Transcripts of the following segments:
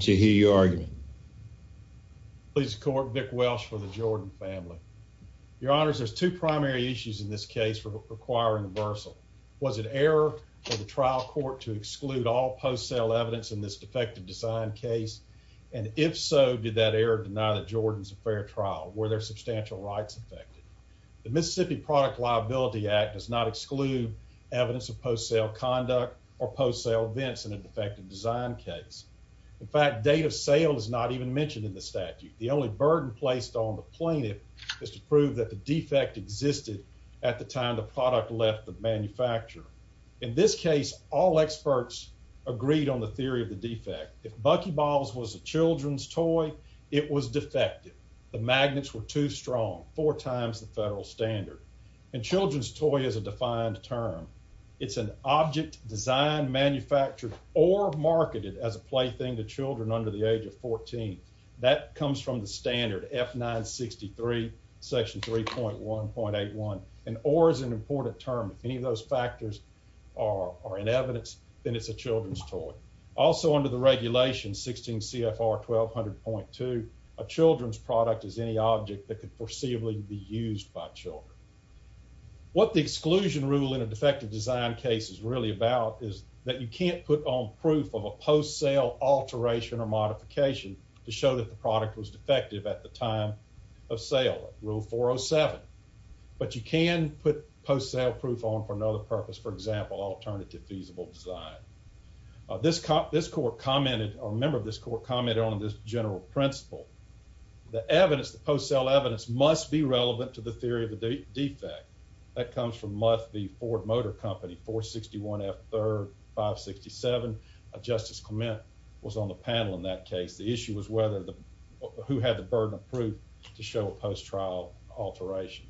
to hear your argument. Please court Vic Welsh for the Jordan family. Your honors, there's two primary issues in this case for requiring reversal. Was it error for the trial court to exclude all post sale evidence in this defective design case? And if so, did that error deny that Jordan's a fair trial? Were there substantial rights affected? The Mississippi Product Liability Act does not exclude evidence of post sale conduct or post sale events in a defective design case. In fact, date of sale is not even mentioned in the statute. The only burden placed on the plaintiff is to prove that the defect existed at the time the product left the manufacturer. In this case, all experts agreed on the theory of the defect. If Buckyballs was a children's toy, it was defective. The magnets were too strong, four times the federal standard. And children's toy is a defined term. It's an object that could be sold or marketed as a plaything to children under the age of 14. That comes from the standard F 963 section 3.1.81 and or is an important term. If any of those factors are in evidence, then it's a children's toy. Also under the regulation 16 CFR 1200.2, a children's product is any object that could foreseeably be used by children. What the exclusion rule in a defective design case is really about is that you can't put on proof of a post sale alteration or modification to show that the product was defective at the time of sale. Rule 407. But you can put post sale proof on for another purpose. For example, alternative feasible design. This cop, this court commented or member of this court commented on this general principle. The evidence, the post sale evidence must be relevant to the theory of the defect that comes from month. The Ford Motor Company 461 F 3567 Justice Clement was on the panel. In that case, the issue was whether the who had the burden of proof to show a post trial alteration.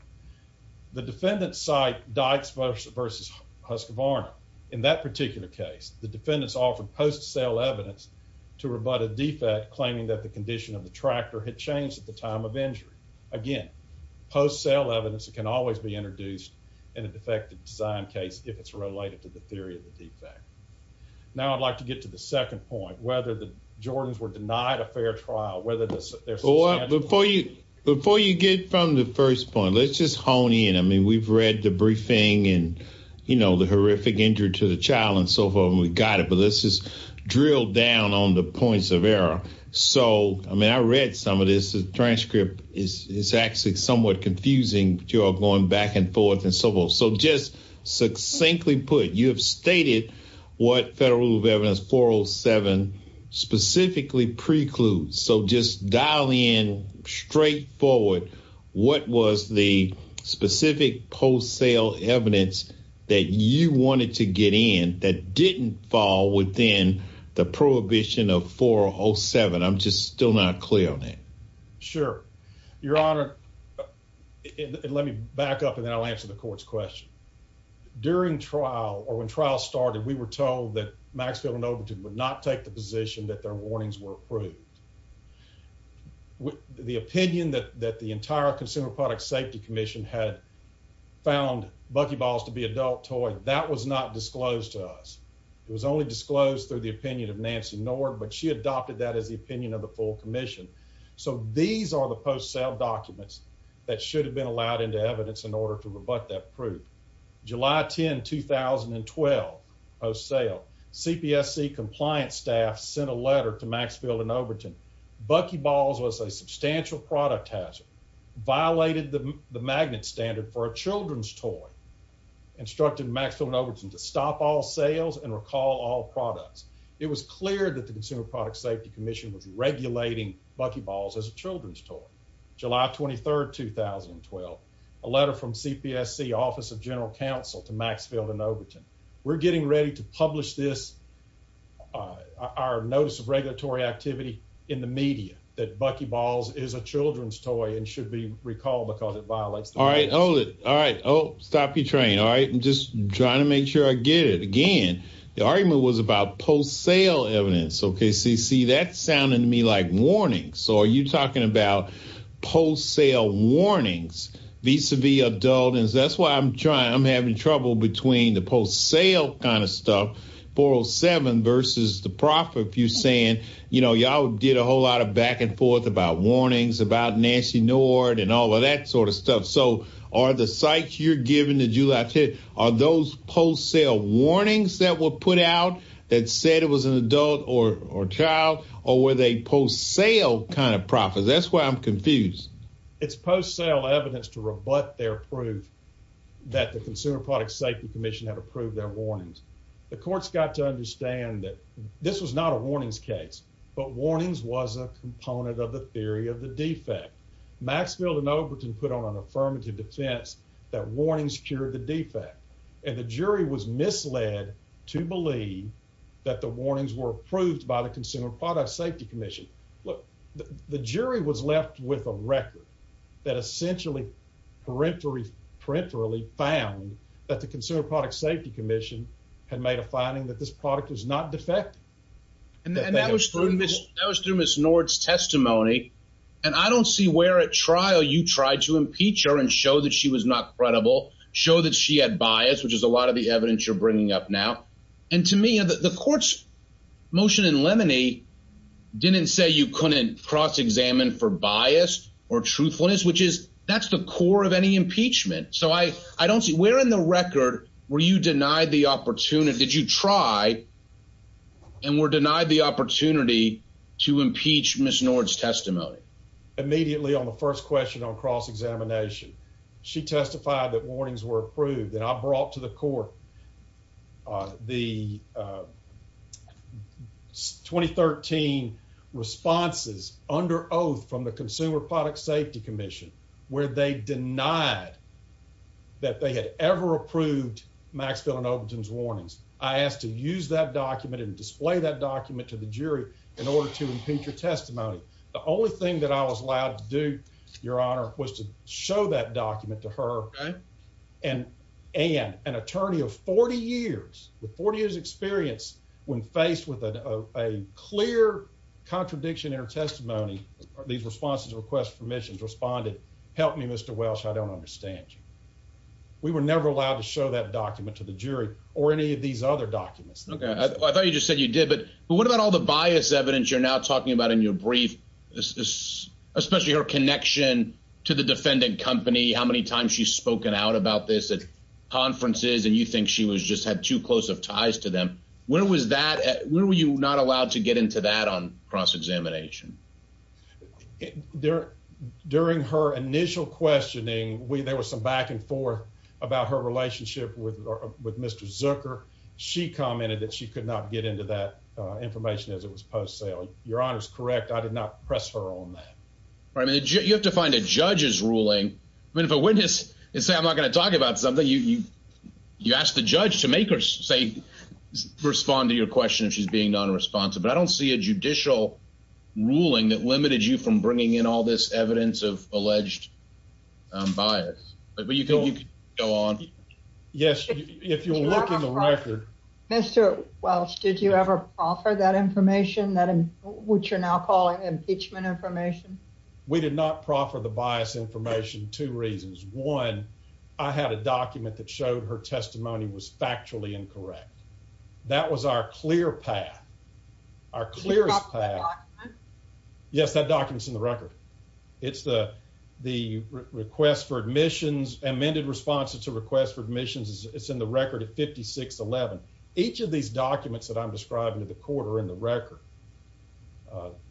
The defendant site Dykes versus Husker Varner. In that particular case, the defendants offered post sale evidence to rebut a defect claiming that the condition of the tractor had changed at the time of injury. Again, post sale evidence can always be introduced in a defective design case if it's related to the theory of the defect. Now, I'd like to get to the second point, whether the Jordans were denied a fair trial, whether there's or before you before you get from the first point, let's just hone in. I mean, we've read the briefing and, you know, the horrific injury to the child and so forth, and we got it. But this is drilled down on the points of error. So I mean, I read some of this transcript is actually somewhat confusing, but you're going back and forth and so forth. So just succinctly put, you have stated what federal rule of evidence 407 specifically precludes. So just dial in straight forward. What was the specific post sale evidence that you wanted to get in that didn't fall within the prohibition of 407? I'm just still not clear on that. Sure, Your Honor. Let me back up and then I'll answer the court's question. During trial or when trial started, we were told that Maxfield and Overton would not take the position that their warnings were approved. The opinion that that the entire Consumer Product Safety Commission had found Bucky Balls to be adult toy that was not disclosed to us. It was only disclosed through the opinion of Nancy Nord, but she adopted that as the opinion of the full commission. So these are the post sale documents that should have been allowed into evidence in order to rebut that proof. July 10, 2012 post sale. CPSC compliance staff sent a letter to Maxfield and Overton. Bucky Balls was a substantial product hazard, violated the magnet standard for a children's toy, instructed Maxfield and Overton to stop all sales and recall all products. It was clear that the Consumer Product Safety Commission was regulating Bucky Balls as a children's toy. July 23, 2012, a letter from CPSC Office of General Counsel to Maxfield and Overton. We're getting ready to publish this, our notice of regulatory activity in the media that Bucky Balls is a children's toy and should be recalled because it violates. All right, hold it. All right. Oh, stop your train. All right. I'm just trying to make sure I get it again. The argument was about post sale evidence. OK, see, see, that sounded to me like warning. So are you talking about post sale warnings vis a vis adult? And that's why I'm trying. I'm having trouble between the post sale kind of stuff, 407 versus the profit. You saying, you know, y'all did a whole lot of back and forth about warnings about Nancy Nord and all of that sort of stuff. So are the sites you're giving that you are those post sale warnings that were put out that said it was an adult or child or were they post sale kind of profits? That's why I'm confused. It's post sale evidence to rebut their proof that the Consumer Product Safety Commission had approved their warnings. The courts got to understand that this was not a warnings case, but warnings was a component of the theory of the defect. Maxfield and And the jury was misled to believe that the warnings were approved by the Consumer Product Safety Commission. Look, the jury was left with a record that essentially parenterally found that the Consumer Product Safety Commission had made a finding that this product was not defective. And that was through Miss Nord's testimony. And I don't see where at trial you tried to impeach her and show that she was not credible, show that she had bias, which is a lot of the evidence you're bringing up now. And to me, the court's motion in Lemony didn't say you couldn't cross examine for bias or truthfulness, which is that's the core of any impeachment. So I don't see where in the record were you denied the opportunity? Did you try and were denied the opportunity to impeach Miss Nord's on cross examination? She testified that warnings were approved and I brought to the court. The 2013 responses under oath from the Consumer Product Safety Commission, where they denied that they had ever approved Maxville and Ogleton's warnings. I asked to use that document and display that document to the jury in order to impeach your testimony. The only thing that I was allowed to do, Your Honor, was to show that document to her and an attorney of 40 years with 40 years experience when faced with a clear contradiction in her testimony, these responses request permissions responded. Help me, Mr. Welsh. I don't understand you. We were never allowed to show that document to the jury or any of these other documents. Okay, I thought you just said you did, but what about all the bias evidence you're now talking about in your brief, especially her connection to the defendant company, how many times she's spoken out about this at conferences and you think she was just had too close of ties to them. Where was that? Where were you not allowed to get into that on cross examination? During her initial questioning, there was some back and forth about her relationship with Mr. Zucker. She commented that she could not get into that information as it was post sale. Your Honor is correct. I did not press her on that. I mean, you have to find a judge's ruling. I mean, if a witness and say, I'm not going to talk about something you you ask the judge to make or say, respond to your question if she's being nonresponsive, but I don't see a judicial ruling that limited you from bringing in all this evidence of alleged bias, but you can go on. Yes, if you look in the record, Mr. Welch, did you ever offer that information that which you're now calling impeachment information? We did not proffer the bias information. Two reasons. One, I had a document that showed her testimony was factually incorrect. That was our clear path are clear. Yes, that documents in the record. It's the the request for admissions amended responses to request for admissions. It's in the record of 56 11. Each of these documents that I'm describing to the quarter in the record,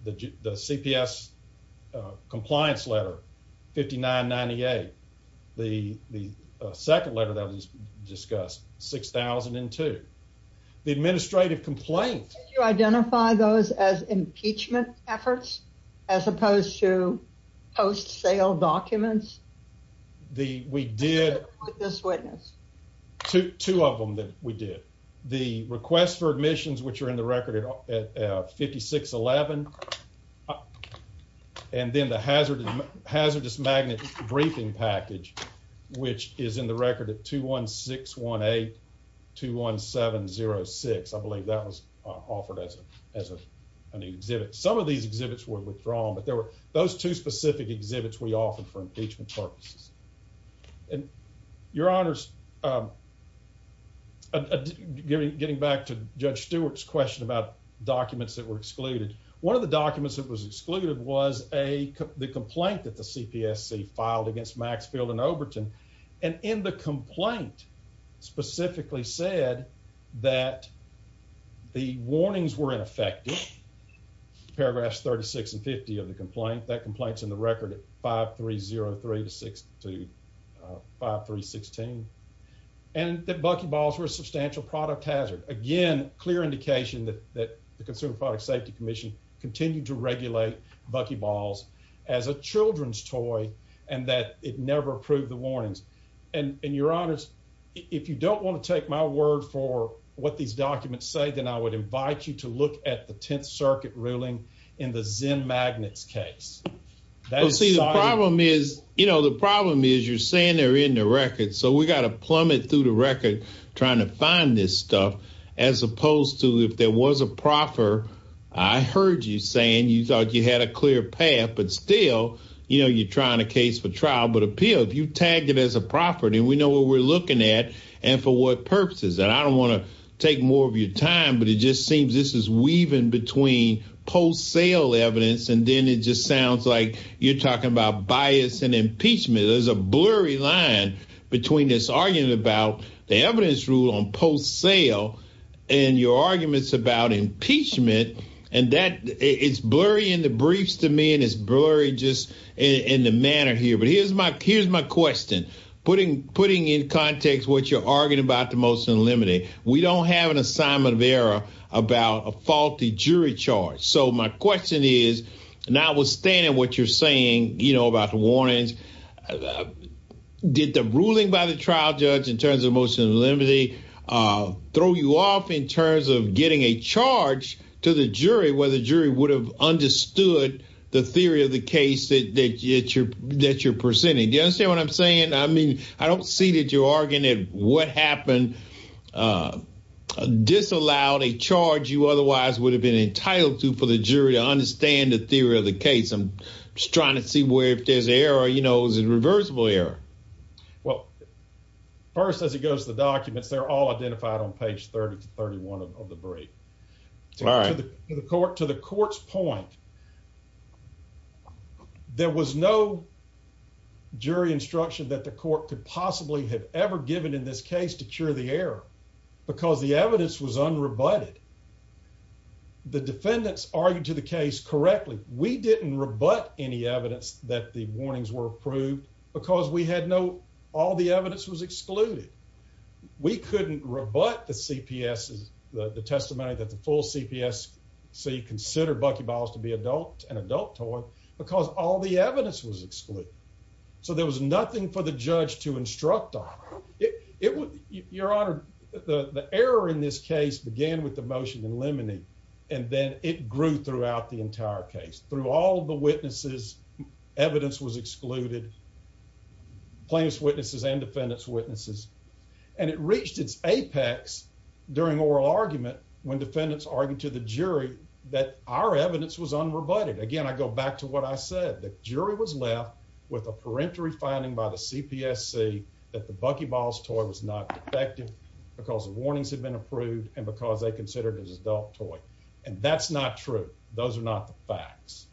the CPS compliance letter 59 98. The second letter that was discussed 6002 the administrative complaint. You identify those as impeachment efforts as opposed to post sale documents. The we did this witness to two of them that we did the request for admissions, which are in the record at 56 11. And then the hazard hazardous magnet briefing package, which is in the record at 2161821706. I believe that was offered as a as a an exhibit. Some of these exhibits were withdrawn, but there were those two specific exhibits we often for impeachment purposes and your honors. Getting back to Judge Stewart's question about documents that were excluded. One of the documents that was excluded was a the complaint that the CPSC filed against Maxfield and Overton and in the complaint specifically said that the complaint that complaints in the record 5303 to 6 to 5 3 16 and that buckyballs were substantial product hazard again. Clear indication that that the Consumer Product Safety Commission continued to regulate buckyballs as a children's toy and that it never approved the warnings and in your honors, if you don't want to take my word for what these documents say, then I would invite you to look at the 10th case. That's see the problem is, you know, the problem is you're saying they're in the record. So we got to plummet through the record trying to find this stuff as opposed to if there was a proffer. I heard you saying you thought you had a clear path, but still, you know, you're trying to case for trial, but appeal if you tagged it as a property, we know what we're looking at and for what purposes and I don't want to take more of your time, but it just seems this is post-sale evidence. And then it just sounds like you're talking about bias and impeachment. There's a blurry line between this argument about the evidence rule on post sale and your arguments about impeachment and that it's blurry in the briefs to me and it's blurry just in the manner here. But here's my here's my question putting putting in context what you're arguing about the motion limiting. We don't have an assignment of error about a faulty jury charge. So my question is not withstanding what you're saying, you know about the warnings did the ruling by the trial judge in terms of motion of limity throw you off in terms of getting a charge to the jury where the jury would have understood the theory of the case that you're that you're presenting. Do you understand what I'm saying? I mean, I don't see that you're arguing that what happened disallowed a charge you otherwise would have been entitled to for the jury to understand the theory of the case. I'm just trying to see where if there's error, you know, is it reversible error? Well first as it goes to the documents, they're all identified on page 30 to 31 of the brief to the court to the court's point. There was no jury instruction that the court could possibly have ever given in this case to cure the air because the evidence was unrebutted. The defendants argued to the case correctly. We didn't rebut any evidence that the warnings were approved because we had no all the evidence was excluded. We couldn't rebut the CPS is the testimony that the full CPS. So you consider Bucky Biles to be adult and adult toy because all the evidence was excluded. So there you're honored. The error in this case began with the motion in limine and then it grew throughout the entire case through all the witnesses. Evidence was excluded plaintiff's witnesses and defendants witnesses and it reached its apex during oral argument when defendants argue to the jury that our evidence was unrebutted. Again, I go back to what I said. The jury was left with a parenteral finding by the CPSC that the Bucky Biles toy was not effective because the warnings had been approved and because they considered as adult toy and that's not true. Those are not the facts.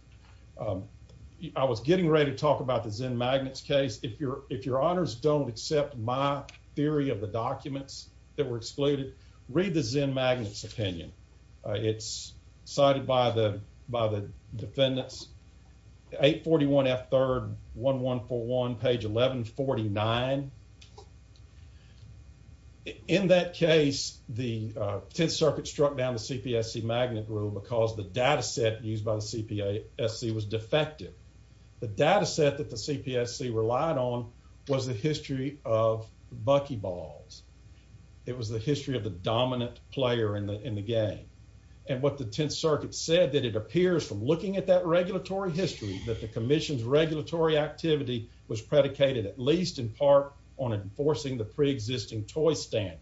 I was getting ready to talk about the Zen Magnets case. If you're if your honors don't accept my theory of the documents that were excluded, read the Zen Magnets opinion. It's cited by the by the defendants. 841 F 3rd 1141 page 1149. In that case, the 10th Circuit struck down the CPSC magnet rule because the data set used by the CPSC was defective. The data set that the CPSC relied on was the history of Bucky Balls. It was the history of the dominant player in the in the game and what the 10th Circuit said that it appears from looking at that regulatory history that the commission's regulatory activity was predicated at least in part on enforcing the preexisting toy standard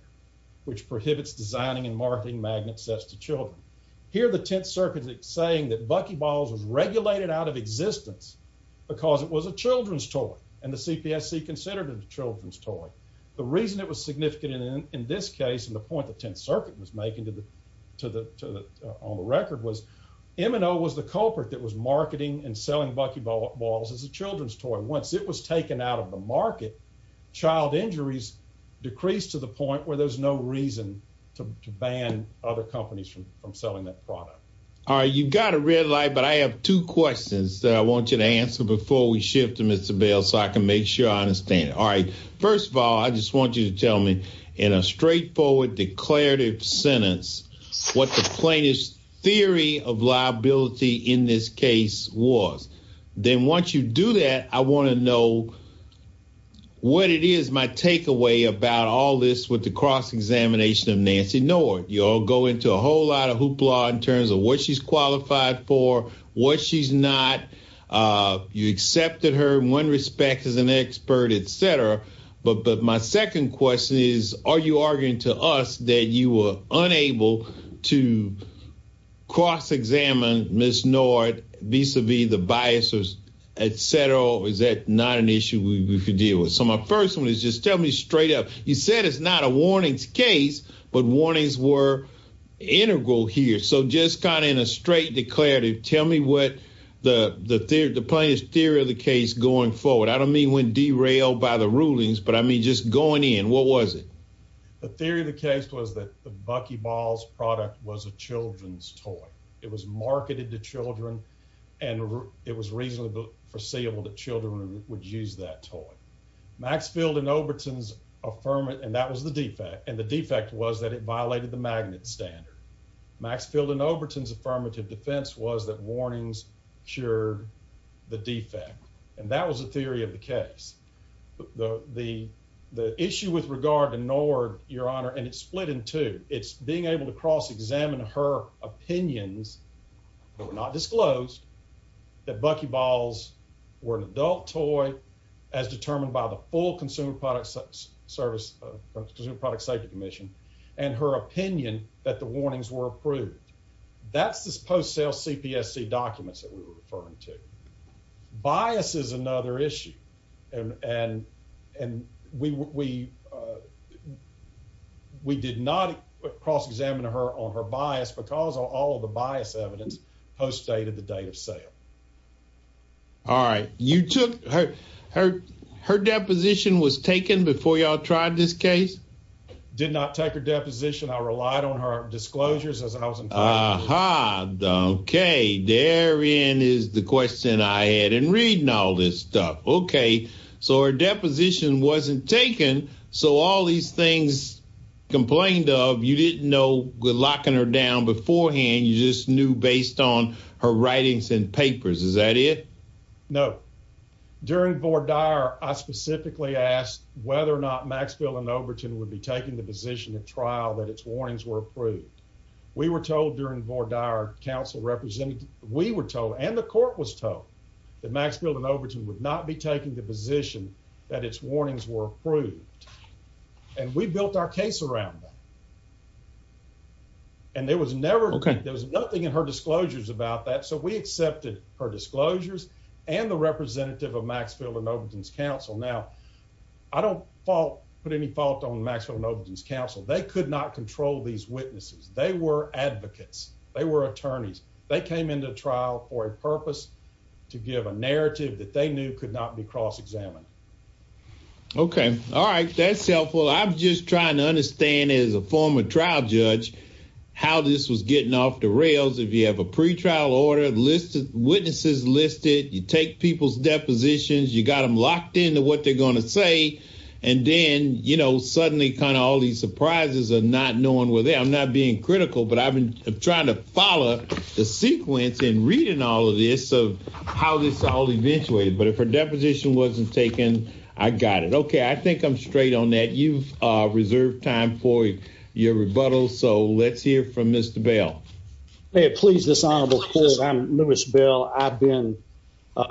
which prohibits designing and marketing magnet sets to children. Here the 10th Circuit is saying that Bucky Biles was regulated out of existence because it was a children's toy and the CPSC considered it a children's toy. The reason it was significant in in this case and the point the 10th Circuit was making to the to the to the on the record was M and O was the culprit that was marketing and selling Bucky Balls as a children's toy. Once it was taken out of the market, child injuries decreased to the point where there's no reason to to ban other companies from from selling that product. Alright, you've got a red light but I have two questions that I want you to answer before we shift to Mr. Bell so I can make sure I understand it. Alright, first of all, I just want you to tell me in a straightforward declarative sentence what the plaintiff's theory of liability in this case was. Then once you do that, I want to know what it is my takeaway about all this with the cross-examination of Nancy Nord. You all go into a whole lot of hoopla in terms of what she's qualified for, what she's not. Uh you accepted her in one respect as an expert, etcetera but but my second question is are you arguing to us that you were unable to cross-examine Miss Nord vis-a-vis the biases, etcetera or is that not an issue we we could deal with? So my first one is just tell me straight up. You said it's not a warnings case but warnings were integral here. So just kind of in a straight declarative, tell me what the the the plaintiff's theory of the case going forward. I don't mean when derailed by the rulings but I mean just going in. What was it? The theory of the case was that the Bucky Balls product was a children's toy. It was marketed to children and it was reasonably foreseeable that children would use that toy. Maxfield and Oberton's affirmative and that was the defect and the defect was that it violated the magnet standard. Maxfield and Oberton's affirmative defense was that warnings cured the defect and that was the theory of the case. The the the issue with regard to Nord, your honor and it's split in two. It's being able to cross-examine her opinions that were not disclosed that Bucky Balls were an adult toy as determined by the full Consumer Product Service Consumer Product Safety Commission and her opinion that the warnings were approved. That's this post-sale CPSC and and and we we we did not cross-examine her on her bias because of all of the bias evidence post dated the date of sale. Alright, you took her her her deposition was taken before y'all tried this case? Did not take her deposition. I relied on her disclosures as I was in. Uh huh. Okay. Therein is the deposition wasn't taken. So, all these things complained of you didn't know we're locking her down beforehand. You just knew based on her writings and papers. Is that it? No. During I specifically asked whether or not Maxfield and Overton would be taking the position of trial that it's warnings were approved. We were told during board council representing we were told and the court was told that Maxfield and Overton would not be taking the position that it's warnings were approved and we built our case around that and there was never. Okay. There was nothing in her disclosures about that. So, we accepted her disclosures and the representative of Maxfield and Overton's Council. Now, I don't fault put any fault on Maxfield and Overton's Council. They could not control these witnesses. They were advocates. They were attorneys. They came into trial for a purpose to give a testimony that they knew could not be cross-examined. Okay. Alright, that's helpful. I'm just trying to understand as a former trial judge how this was getting off the rails. If you have a pre-trial order listed, witnesses listed, you take people's depositions, you got them locked into what they're going to say and then, you know, suddenly kind of all these surprises are not knowing where they are. I'm not being critical but I've been trying to follow the sequence in reading all of this of how this all eventuated but if her deposition wasn't taken, I got it. Okay, I think I'm straight on that. You've reserved time for your rebuttal. So, let's hear from Mr. Bell. May it please this honorable court. I'm Lewis Bell. I've been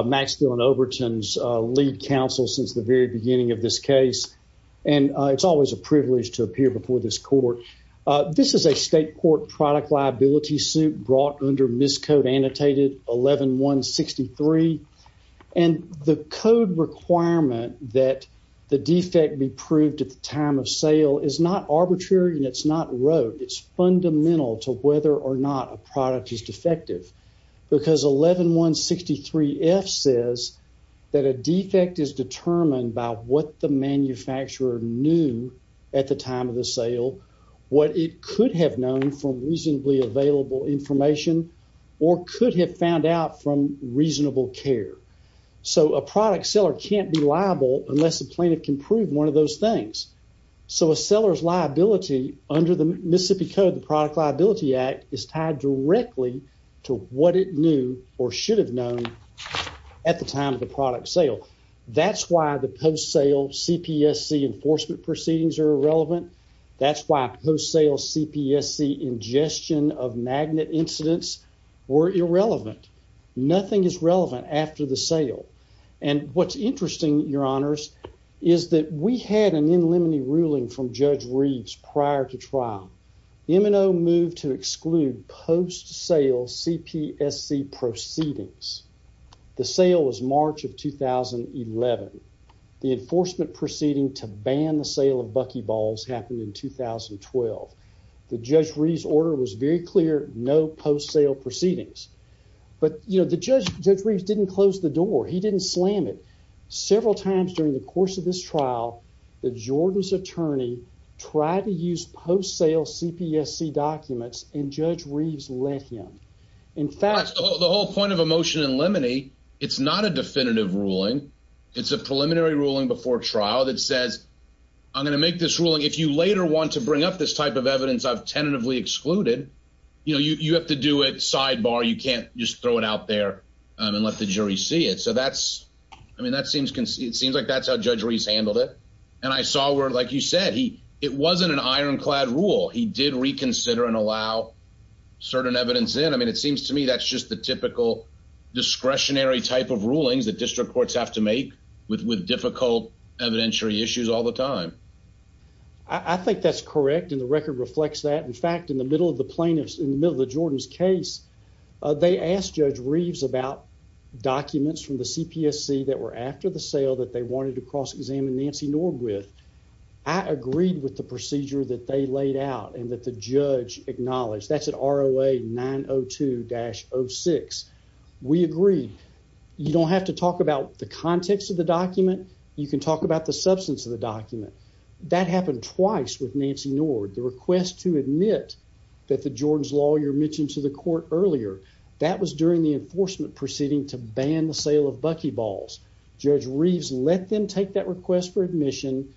Maxfield and Overton's lead counsel since the very beginning of this case and it's always a privilege to appear before this court. This is a state court suit brought under miscode annotated 11163 and the code requirement that the defect be proved at the time of sale is not arbitrary and it's not wrote. It's fundamental to whether or not a product is defective because 11163F says that a defect is determined by what the manufacturer knew at the time of the sale, what it could have known from reasonably available information or could have found out from reasonable care. So, a product seller can't be liable unless the plaintiff can prove one of those things. So, a seller's liability under the Mississippi Code, the product liability act is tied directly to what it knew or should have known at the time of the product sale. That's why the post-sale CPSC enforcement proceedings are irrelevant. That's why post-sale CPSC ingestion of magnet incidents were irrelevant. Nothing is relevant after the sale and what's interesting your honors is that we had an in limine ruling from Judge Reeves prior to trial. M&O moved to exclude post-sale CPSC proceedings. The sale was March of 2011. The enforcement proceeding to ban the sale of buckyballs happened in 2012. The Judge Reeves order was very clear, no post-sale proceedings but you know the judge, Judge Reeves didn't close the door. He didn't slam it. Several times during the course of this trial, the Jordan's attorney tried to use post-sale CPSC documents and Judge Reeves let him. In fact, the whole point of a motion in limine, it's not a definitive ruling. It's a preliminary ruling before trial that says, I'm going to make this ruling. If you later want to bring up this type of evidence, I've tentatively excluded. You know, you have to do it sidebar. You can't just throw it out there and let the jury see it. So that's, I mean, that seems conceivable. It seems like that's how Judge Reeves handled it and I saw where, like you said, he, it wasn't an iron clad rule. He did reconsider and allow certain evidence in. I mean, it seems to me that's just the typical discretionary type of rulings that district courts have to make with difficult evidentiary issues all the time. I think that's correct and the record reflects that. In fact, in the middle of the plaintiffs, in the middle of the Jordan's case, they asked Judge Reeves about documents from the CPSC that were after the sale that they wanted to cross-examine Nancy Nord with. I agreed with the procedure that they laid out and that the judge acknowledged. That's at ROA 902-06. We agreed. You don't have to talk about the context of the document. You can talk about the substance of the document. That happened twice with Nancy Nord. The request to admit that the Jordan's lawyer mentioned to the court earlier, that was during the enforcement proceeding to ban the sale of buckyballs. Judge Reeves let them take that request for admission,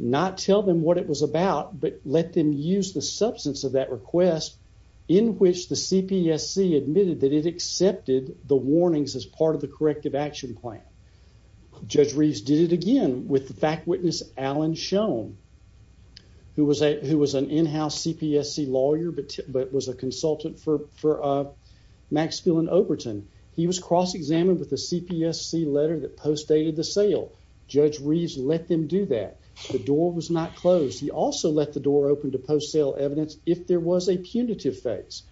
not tell them what it was about, but let them use the substance of that request in which the CPSC admitted that it accepted the warnings as part of the corrective action plan. Judge Reeves did it again with the fact witness, Alan Shone, who was an in-house CPSC lawyer but was a consultant for Maxfield and Overton. He was cross-examined with the CPSC letter that postdated the sale. Judge Reeves let them do that. The door was not closed. He also let the door open to post-sale evidence if there was a punitive face.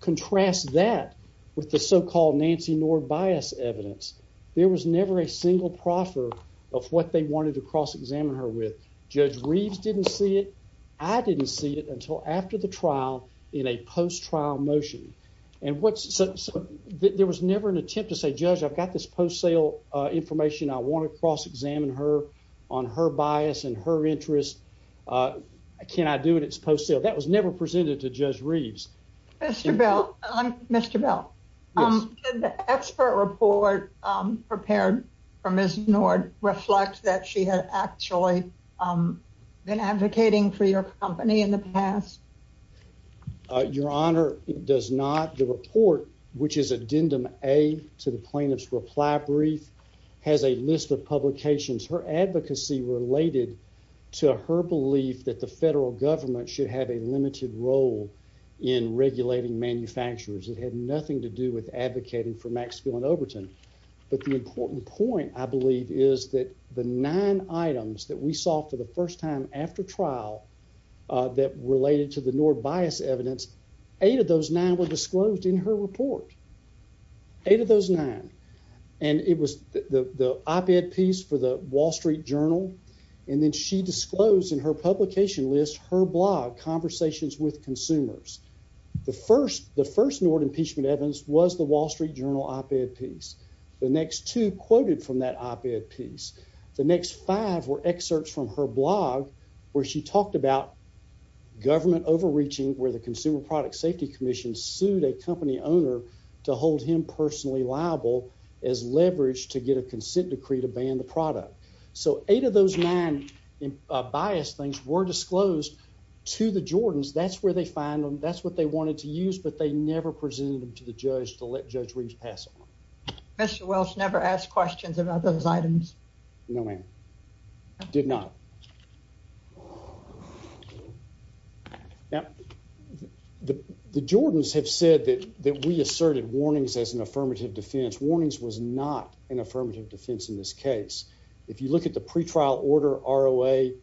Contrast that with the so-called Nancy Nord bias evidence. There was never a single proffer of what they wanted to cross-examine her with. Judge Reeves didn't see it. I didn't see it until after the trial in a post-trial motion. There was never an attempt to say, judge, I've got this post-sale information. I want to cross-examine her on her bias and her interest. Can I do it? It's post-sale. That was never presented to Judge Reeves. Mr. Bell, did the expert report prepared for Ms. Nord reflect that she had actually been advocating for your company in the past? Your Honor, it does not. The report, which is addendum A to the plaintiff's reply brief, has a list of publications. Her advocacy related to her belief that the federal government should have a limited role in regulating manufacturers. It had nothing to do with advocating for Maxfield and Overton. But the important point, I believe, is that the nine items that we saw for the first time after trial that related to the Nord bias evidence, eight of those nine were disclosed in her report. Eight of those nine. And it was the op-ed piece for the Wall Street Journal. And then she disclosed in her publication list her blog, Conversations with Consumers. The first Nord impeachment evidence was the Wall Street Journal op-ed piece. The next two quoted from that op-ed piece. The next five were excerpts from her blog where she talked about government overreaching, where the Consumer Product Safety Commission sued a company owner to hold him personally liable as leveraged to get a consent decree to ban the product. So eight of those nine bias things were disclosed to the Jordans. That's where they find them. That's what they wanted to use, but they never presented them to the judge to let Judge Reaves pass them on. Mr. Welch never asked questions about those have said that we asserted warnings as an affirmative defense. Warnings was not an affirmative defense in this case. If you look at the pretrial order are away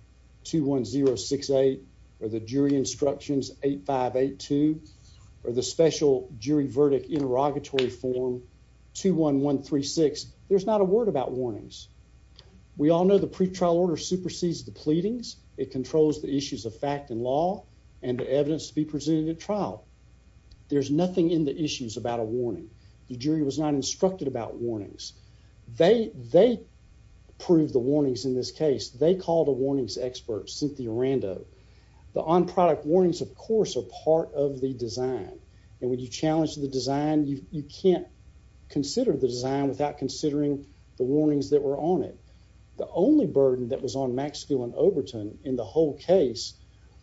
to 1068 or the jury instructions 8582 or the special jury verdict interrogatory form 21136, there's not a word about warnings. We all know the pretrial order supersedes the pleadings. It controls the issues of fact and law and the evidence to be there's nothing in the issues about a warning. The jury was not instructed about warnings. They they prove the warnings in this case. They called a warnings expert Cynthia Rando the on product warnings, of course, are part of the design and when you challenge the design, you can't consider the design without considering the warnings that were on it. The only burden that was on Max Gill and Overton in the whole case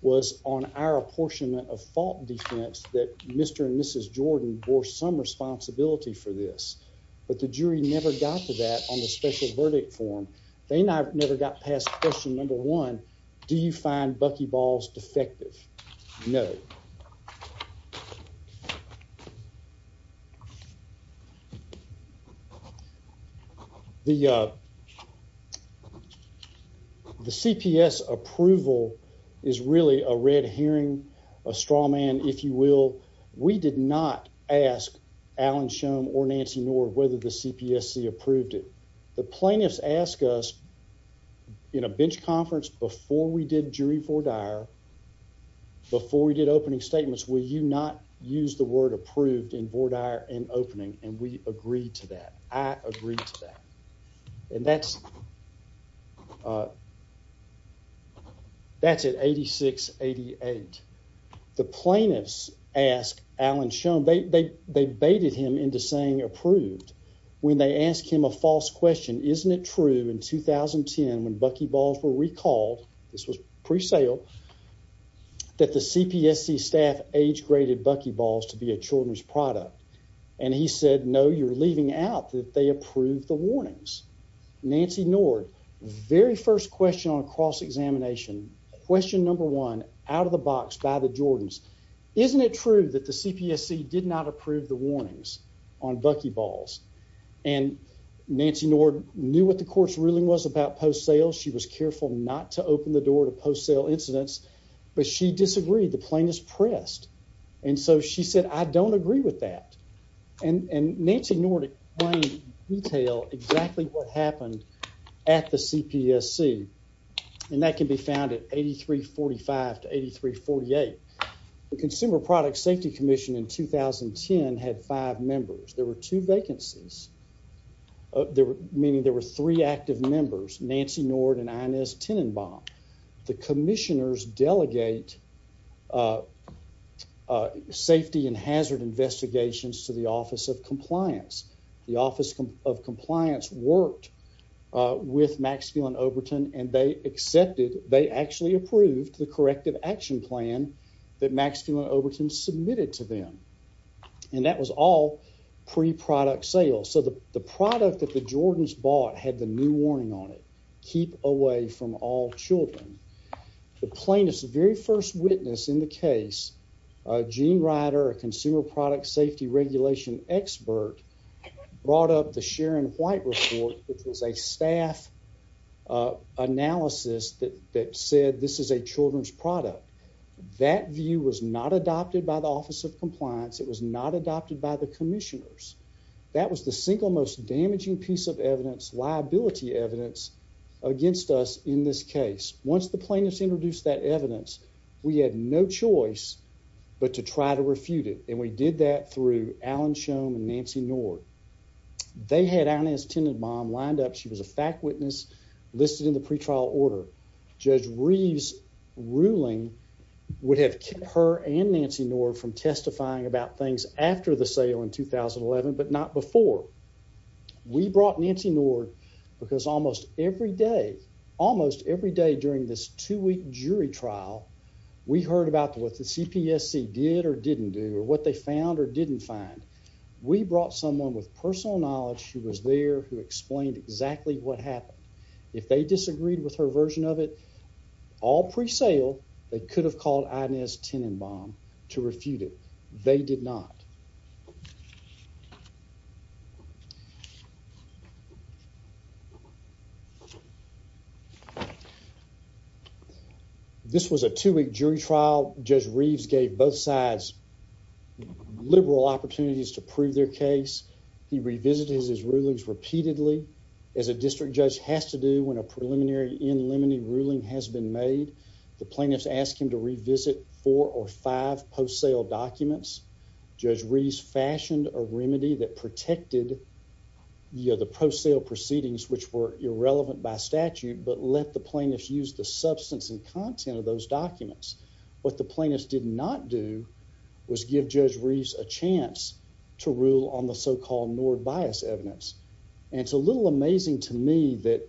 was on our apportionment of fault defense that Mr. And Mrs. Jordan bore some responsibility for this, but the jury never got to that on the special verdict form. They never got past question number one. Do you find Bucky balls defective? No. The. The CPS approval is really a red hearing a straw man. If you will, we did not ask Alan Shum or Nancy Nord whether the CPSC approved it. The plaintiffs ask us. In a bench conference before we did jury for Dyer. Before we did opening statements, will you not use the word approved in for Dyer and opening and we agree to that? I agree to that. And that's. That's at 8688. The plaintiffs ask Alan shown they they they baited him into saying approved when they ask him a false question. Isn't it true in 2010 when Bucky balls were recalled? This was pre sale. That the CPSC staff age graded Bucky balls to be a children's product and he said no, you're leaving out that they approved the warnings. Nancy Nord very first question on cross examination question number one out of the box by the Jordans. Isn't it true that the CPSC did not approve the Nancy Nord knew what the course ruling was about post sales. She was careful not to open the door to post sale incidents, but she disagreed. The plaintiffs pressed and so she said I don't agree with that and and Nancy Nordic. Detail exactly what happened at the CPSC and that can be found at 8345 to 8348 Consumer Product Safety Commission in 2010 had five members. There were two vacancies. Meaning there were three active members, Nancy Nord and Inez Tenenbaum. The commissioners delegate. Safety and hazard investigations to the Office of Compliance. The Office of Compliance worked with Maxfield and Overton and they accepted. They actually approved the corrective action plan that Maxfield Overton submitted to them. And that was all pre product sales. So the product that the Jordans bought had the new warning on it. Keep away from all children. The plaintiffs very first witness in the case. Gene Ryder, a consumer product safety regulation expert, brought up the Sharon White report, which was a staff. Analysis that that said this is a children's product. That view was not adopted by the Office of Compliance. It was not adopted by the commissioners. That was the single most damaging piece of evidence liability evidence against us. In this case, once the plaintiffs introduced that evidence, we had no choice but to try to refute it, and we did that through Alan Schoen and Nancy Nord. They had on his tenant mom lined up. She was a fact witness listed in the pretrial order. Judge Reeves ruling would have kept her and Nancy Nord from testifying about things after the sale in 2011, but not before. We brought Nancy Nord because almost every day, almost every day during this two week jury trial, we heard about what the CPSC did or didn't do or what they found or didn't find. We brought someone with personal knowledge. She was there who explained exactly what happened. If they disagreed with her version of it all pre sale, they could have called ideas tenant bomb to refute it. They did not. This was a two week jury trial. Judge Reeves gave both sides. Liberal opportunities to prove their case. He revisited his rulings repeatedly as a district judge has to do when a testimony ruling has been made. The plaintiffs asked him to revisit four or five post sale documents. Judge Reeves fashioned a remedy that protected. You know the pro sale proceedings which were irrelevant by statute, but let the plaintiffs use the substance and content of those documents. What the plaintiffs did not do was give Judge Reeves a chance to rule amazing to me that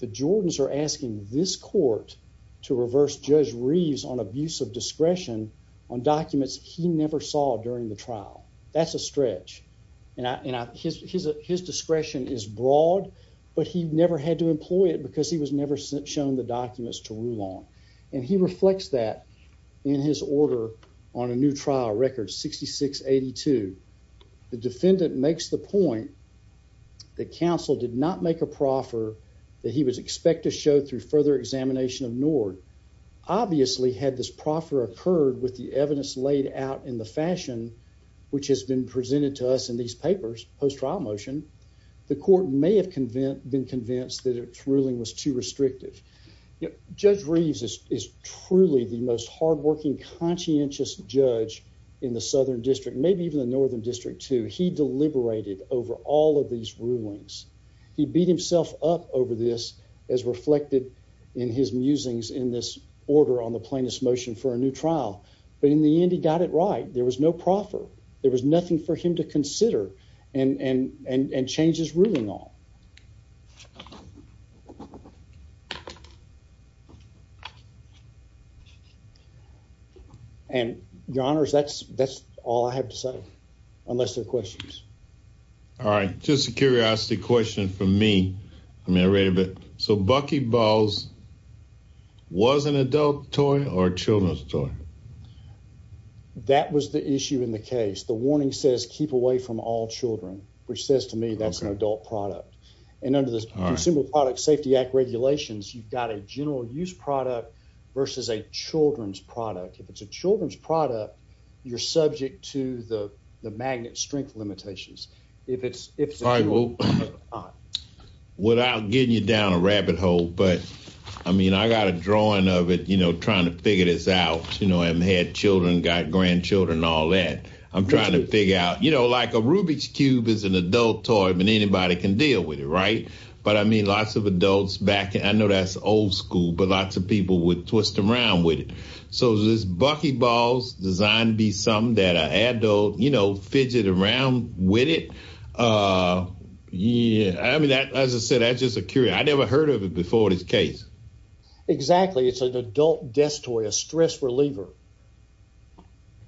the Jordans are asking this court to reverse Judge Reeves on abuse of discretion on documents he never saw during the trial. That's a stretch and his discretion is broad, but he never had to employ it because he was never shown the documents to rule on and he reflects that in his order on a new trial record 6682. The defendant makes the point. The council did not make a proffer that he was expected to show through further examination of Nord. Obviously had this proffer occurred with the evidence laid out in the fashion which has been presented to us in these papers post trial motion, the court may have convinced been convinced that it's ruling was too restrictive. Judge Reeves is truly the most hardworking conscientious judge in the Southern District, maybe even the northern district to he deliberated over all of these rulings. He beat himself up over this as reflected in his musings in this order on the plaintiffs motion for a new trial. But in the end, he got it right. There was no proffer. There was nothing for him to consider and and and and changes ruling all. And your honors, that's that's all I have to say unless they're questions. Alright, just a curiosity question for me. I mean, I read a bit so Bucky balls was an adult toy or children's toy. That was the issue in the case. The warning says keep away from all Children, which says to me that's an adult product. And under the Consumer Product Safety Act regulations, you've got a general use product versus a children's product. If it's a children's product, you're subject to the magnet strength limitations. If it's if it's all right, well, without getting you down a rabbit hole. But I mean, I got a drawing of it, you know, trying to figure this out. You know, I haven't had children, got grandchildren, all that. I'm trying to figure out, you know, like a Rubik's Cube is an adult toy. I mean, anybody can deal with it. Right. But I mean, lots of adults back. I know that's old school, but lots of people would twist around with it. So this Bucky balls designed to be something that I add, though, you know, fidget around with it. Yeah. I mean, that, as I said, that's just a curio. I never heard of it before this case. Exactly. It's an adult desk toy, a stress reliever.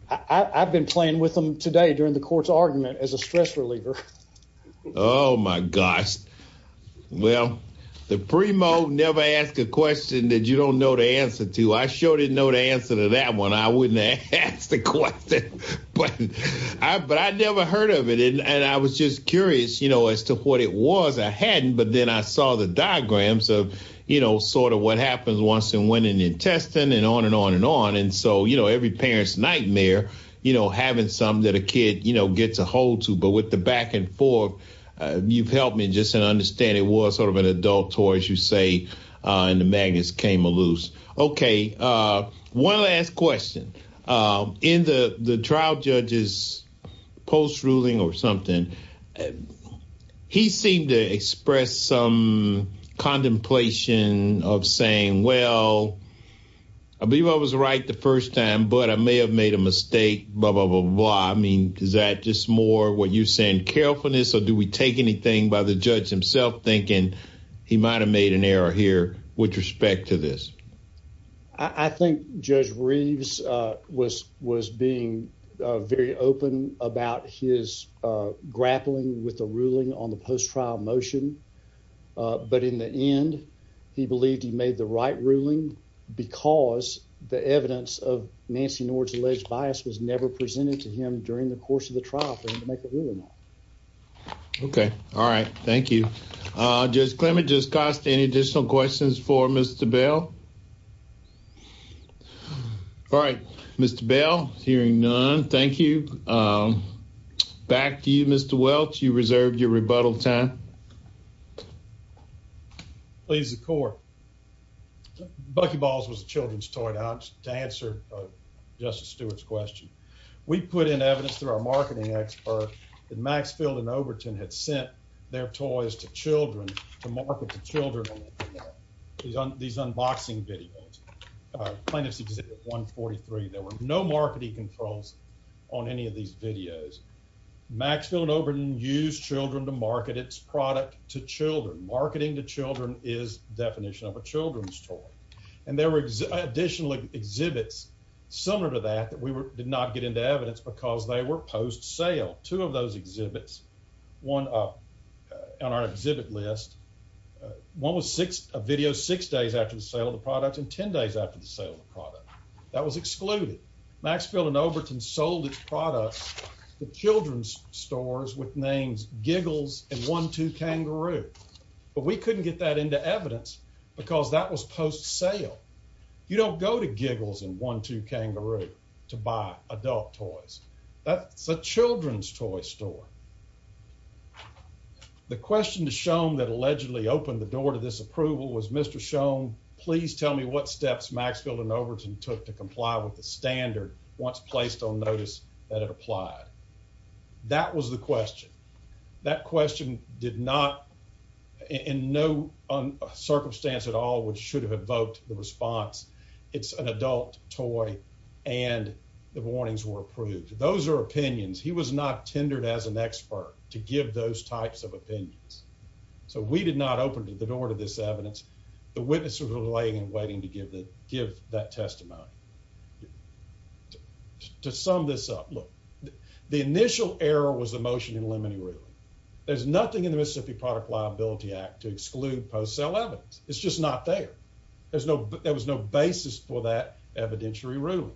I've been playing with them today during the court's argument as a Oh, my gosh. Well, the primo never asked a question that you don't know the answer to. I sure didn't know the answer to that one. I wouldn't ask the question, but I never heard of it. And I was just curious, you know, as to what it was. I hadn't. But then I saw the diagrams of, you know, sort of what happens once and when in the intestine and on and on and on. And so, you know, every parent's nightmare, you know, having something that a kid, you know, gets a hold to. But with the back and forth, you've helped me just to understand it was sort of an adult toy, as you say, and the magnets came loose. Okay. One last question. In the trial judge's post ruling or something, he seemed to express some contemplation of saying, well, I believe I was right the first time, but I may have made a mistake. Blah, blah, blah, blah. I mean, is that just more what you're saying, carefulness or do we take anything by the judge himself thinking he might have made an error here with respect to this? I think Judge Reeves was being very open about his grappling with the ruling on the post trial motion. But in the end, he believed he made the right ruling because the evidence of what was presented to him during the course of the trial for him to make a ruling on. Okay. All right. Thank you. Judge Clement, does this cost any additional questions for Mr. Bell? All right. Mr. Bell, hearing none, thank you. Back to you, Mr. Welch. You reserved your rebuttal time. Please, the court. Bucky Balls was a children's toy to answer Justice Stewart's question. We put in evidence through our marketing expert that Maxfield and Overton had sent their toys to children to market to children. These unboxing videos, plaintiff's exhibit 143, there were no marketing controls on any of these videos. Maxfield and Overton used children to market its product to children. Marketing to children is the definition of a children's toy. And there were additional exhibits similar to that that we did not get into evidence because they were post sale. Two of those exhibits, one on our exhibit list, one was a video six days after the sale of the product and ten days after the sale of the product. That was excluded. Maxfield and Overton sold its products to children's stores with names Giggles and One Two Kangaroo. But we couldn't get that into evidence because that was post sale. You don't go to Giggles and One Two Kangaroo to buy adult toys. That's a children's toy store. The question to Schoen that allegedly opened the door to this approval was, Mr. Schoen, please tell me what steps Maxfield and Overton took to comply with the standard once placed on notice that it applied. That was the question. That question did not in no circumstance at all, which should have evoked the response. It's an adult toy, and the warnings were approved. Those are opinions. He was not tendered as an expert to give those types of opinions. So we did not open the door to this evidence. The witnesses were laying and waiting to give that testimony. To sum this up, look, the initial error was the motion in limiting ruling. There's nothing in the Mississippi Product Liability Act to exclude post sale evidence. It's just not there. There was no basis for that evidentiary ruling.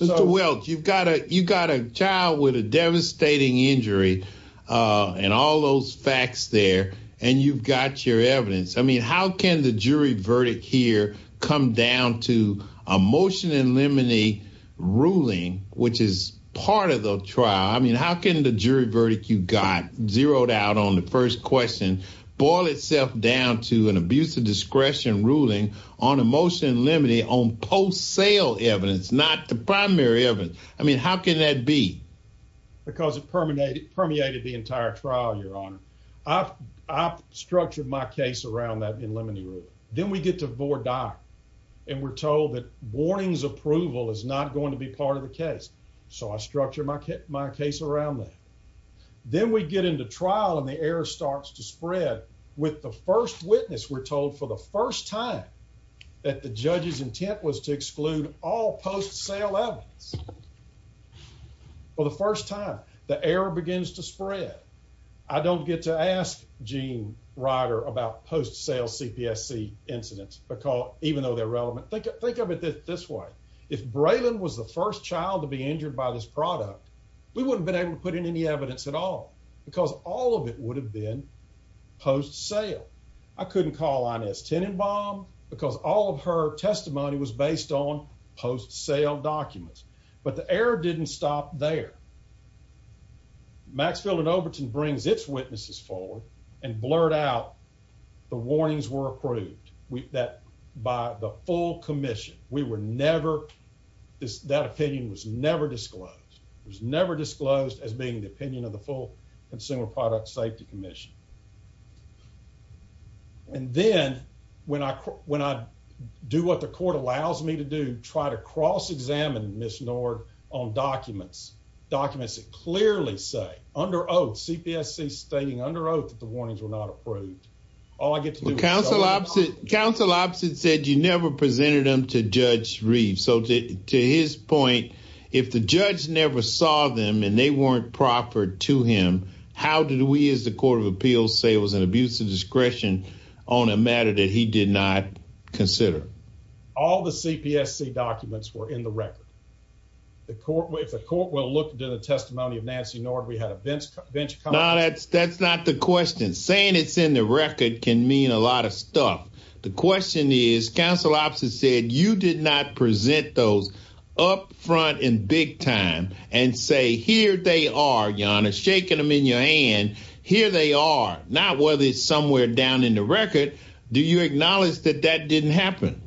Mr. Welch, you've got a child with a devastating injury and all those facts there, and you've got your evidence. I mean, how can the jury verdict here come down to a motion in limiting ruling, which is part of the trial? I mean, how can the jury verdict you got zeroed out on the first question boil itself down to an abuse of discretion ruling on a motion limiting on post sale evidence, not the primary evidence? I mean, how can that be? Because it permeated the entire trial, Your Honor. I've structured my case around that in limiting ruling. Then we get to board doc, and we're told that warnings approval is not going to be part of the case, so I structure my case around that. Then we get into trial, and the error starts to spread. With the first witness, we're told for the first time that the judge's intent was to exclude all post sale evidence. For the first time, the error begins to spread. I don't get to ask Gene Ryder about post sale CPSC incidents, even though they're relevant. Think of it this way. If Braylon was the first child to be injured by this product, we wouldn't have been able to put in any evidence at all because all of it would have been post sale. I couldn't call on S. Tenenbaum because all of her testimony was based on post sale documents, but the error didn't stop there. Maxfield and Overton brings its witnesses forward and blurt out the warnings were approved by the full commission. We were never, that opinion was never disclosed. It was never disclosed as being the opinion of the full Consumer Product Safety Commission. And then, when I do what the court allows me to do, try to cross examine Ms. Nord on documents. Documents that clearly say, under oath, CPSC stating under oath that the warnings were not approved. All I get to do is say, you never presented them to Judge Reeves. So, to his point, if the judge never saw them and they weren't proper to him, how did we as the Court of Appeals say it was an abuse of discretion on a matter that he did not consider? All the CPSC documents were in the record. If the court will look into the testimony of Nancy Nord, we had a bench comment. No, that's not the question. Saying it's in the record can mean a lot of stuff. The question is, Counsel Ops has said, you did not present those up front in big time and say here they are, Your Honor, shaking them in your hand. Here they are. Not whether it's somewhere down in the record. Do you acknowledge that that didn't happen?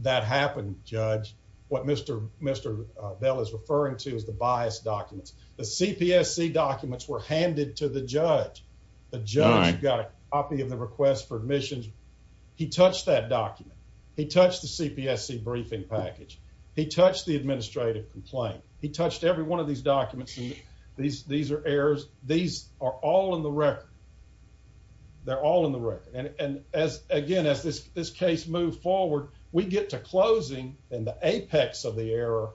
That happened, Judge. What Mr. Bell is referring to is the biased documents. The CPSC documents were handed to the judge. The judge got a copy of the request for admissions. He touched that document. He touched the CPSC briefing package. He touched the administrative complaint. He touched every one of these documents. These are errors. These are all in the record. They're all in the record. Again, as this case moves forward, we get to closing and the apex of the error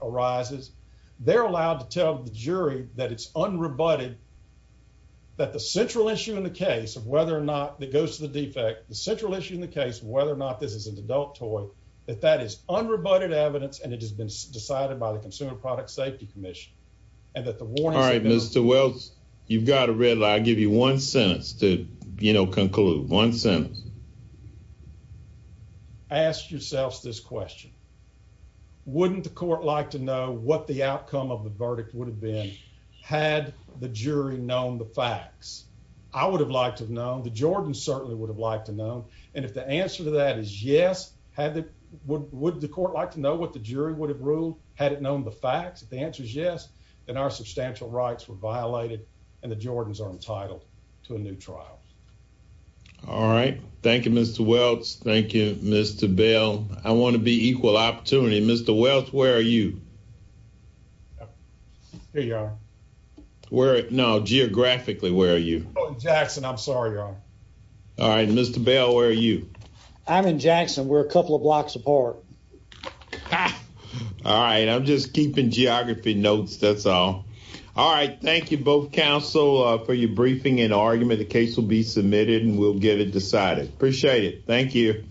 arises. They're allowed to tell the jury that it's unrebutted and that the central issue in the case of whether or not it goes to the defect, the central issue in the case of whether or not this is an adult toy, that that is unrebutted evidence and it has been decided by the Consumer Product Safety Commission. All right, Mr. Welch, you've got a red line. I'll give you one sentence to conclude. One sentence. Ask yourselves this question. Wouldn't the court like to know what the outcome of the verdict would have been had the jury known the facts? I would have liked to have known. The Jordans certainly would have liked to have known. And if the answer to that is yes, would the court like to know what the jury would have ruled had it known the facts? If the answer is yes, then our substantial rights were violated and the Jordans are entitled to a new trial. All right. Thank you, Mr. Welch. Thank you, Mr. Bell. I want to be equal opportunity. Mr. Welch, where are you? Here you are. No, geographically, where are you? Oh, Jackson, I'm sorry. All right. Mr. Bell, where are you? I'm in Jackson. We're a couple of blocks apart. All right. I'm just keeping geography notes. That's all. All right. Thank you both, counsel, for your briefing and argument. The case will be submitted and we'll get it decided. Appreciate it. Thank you.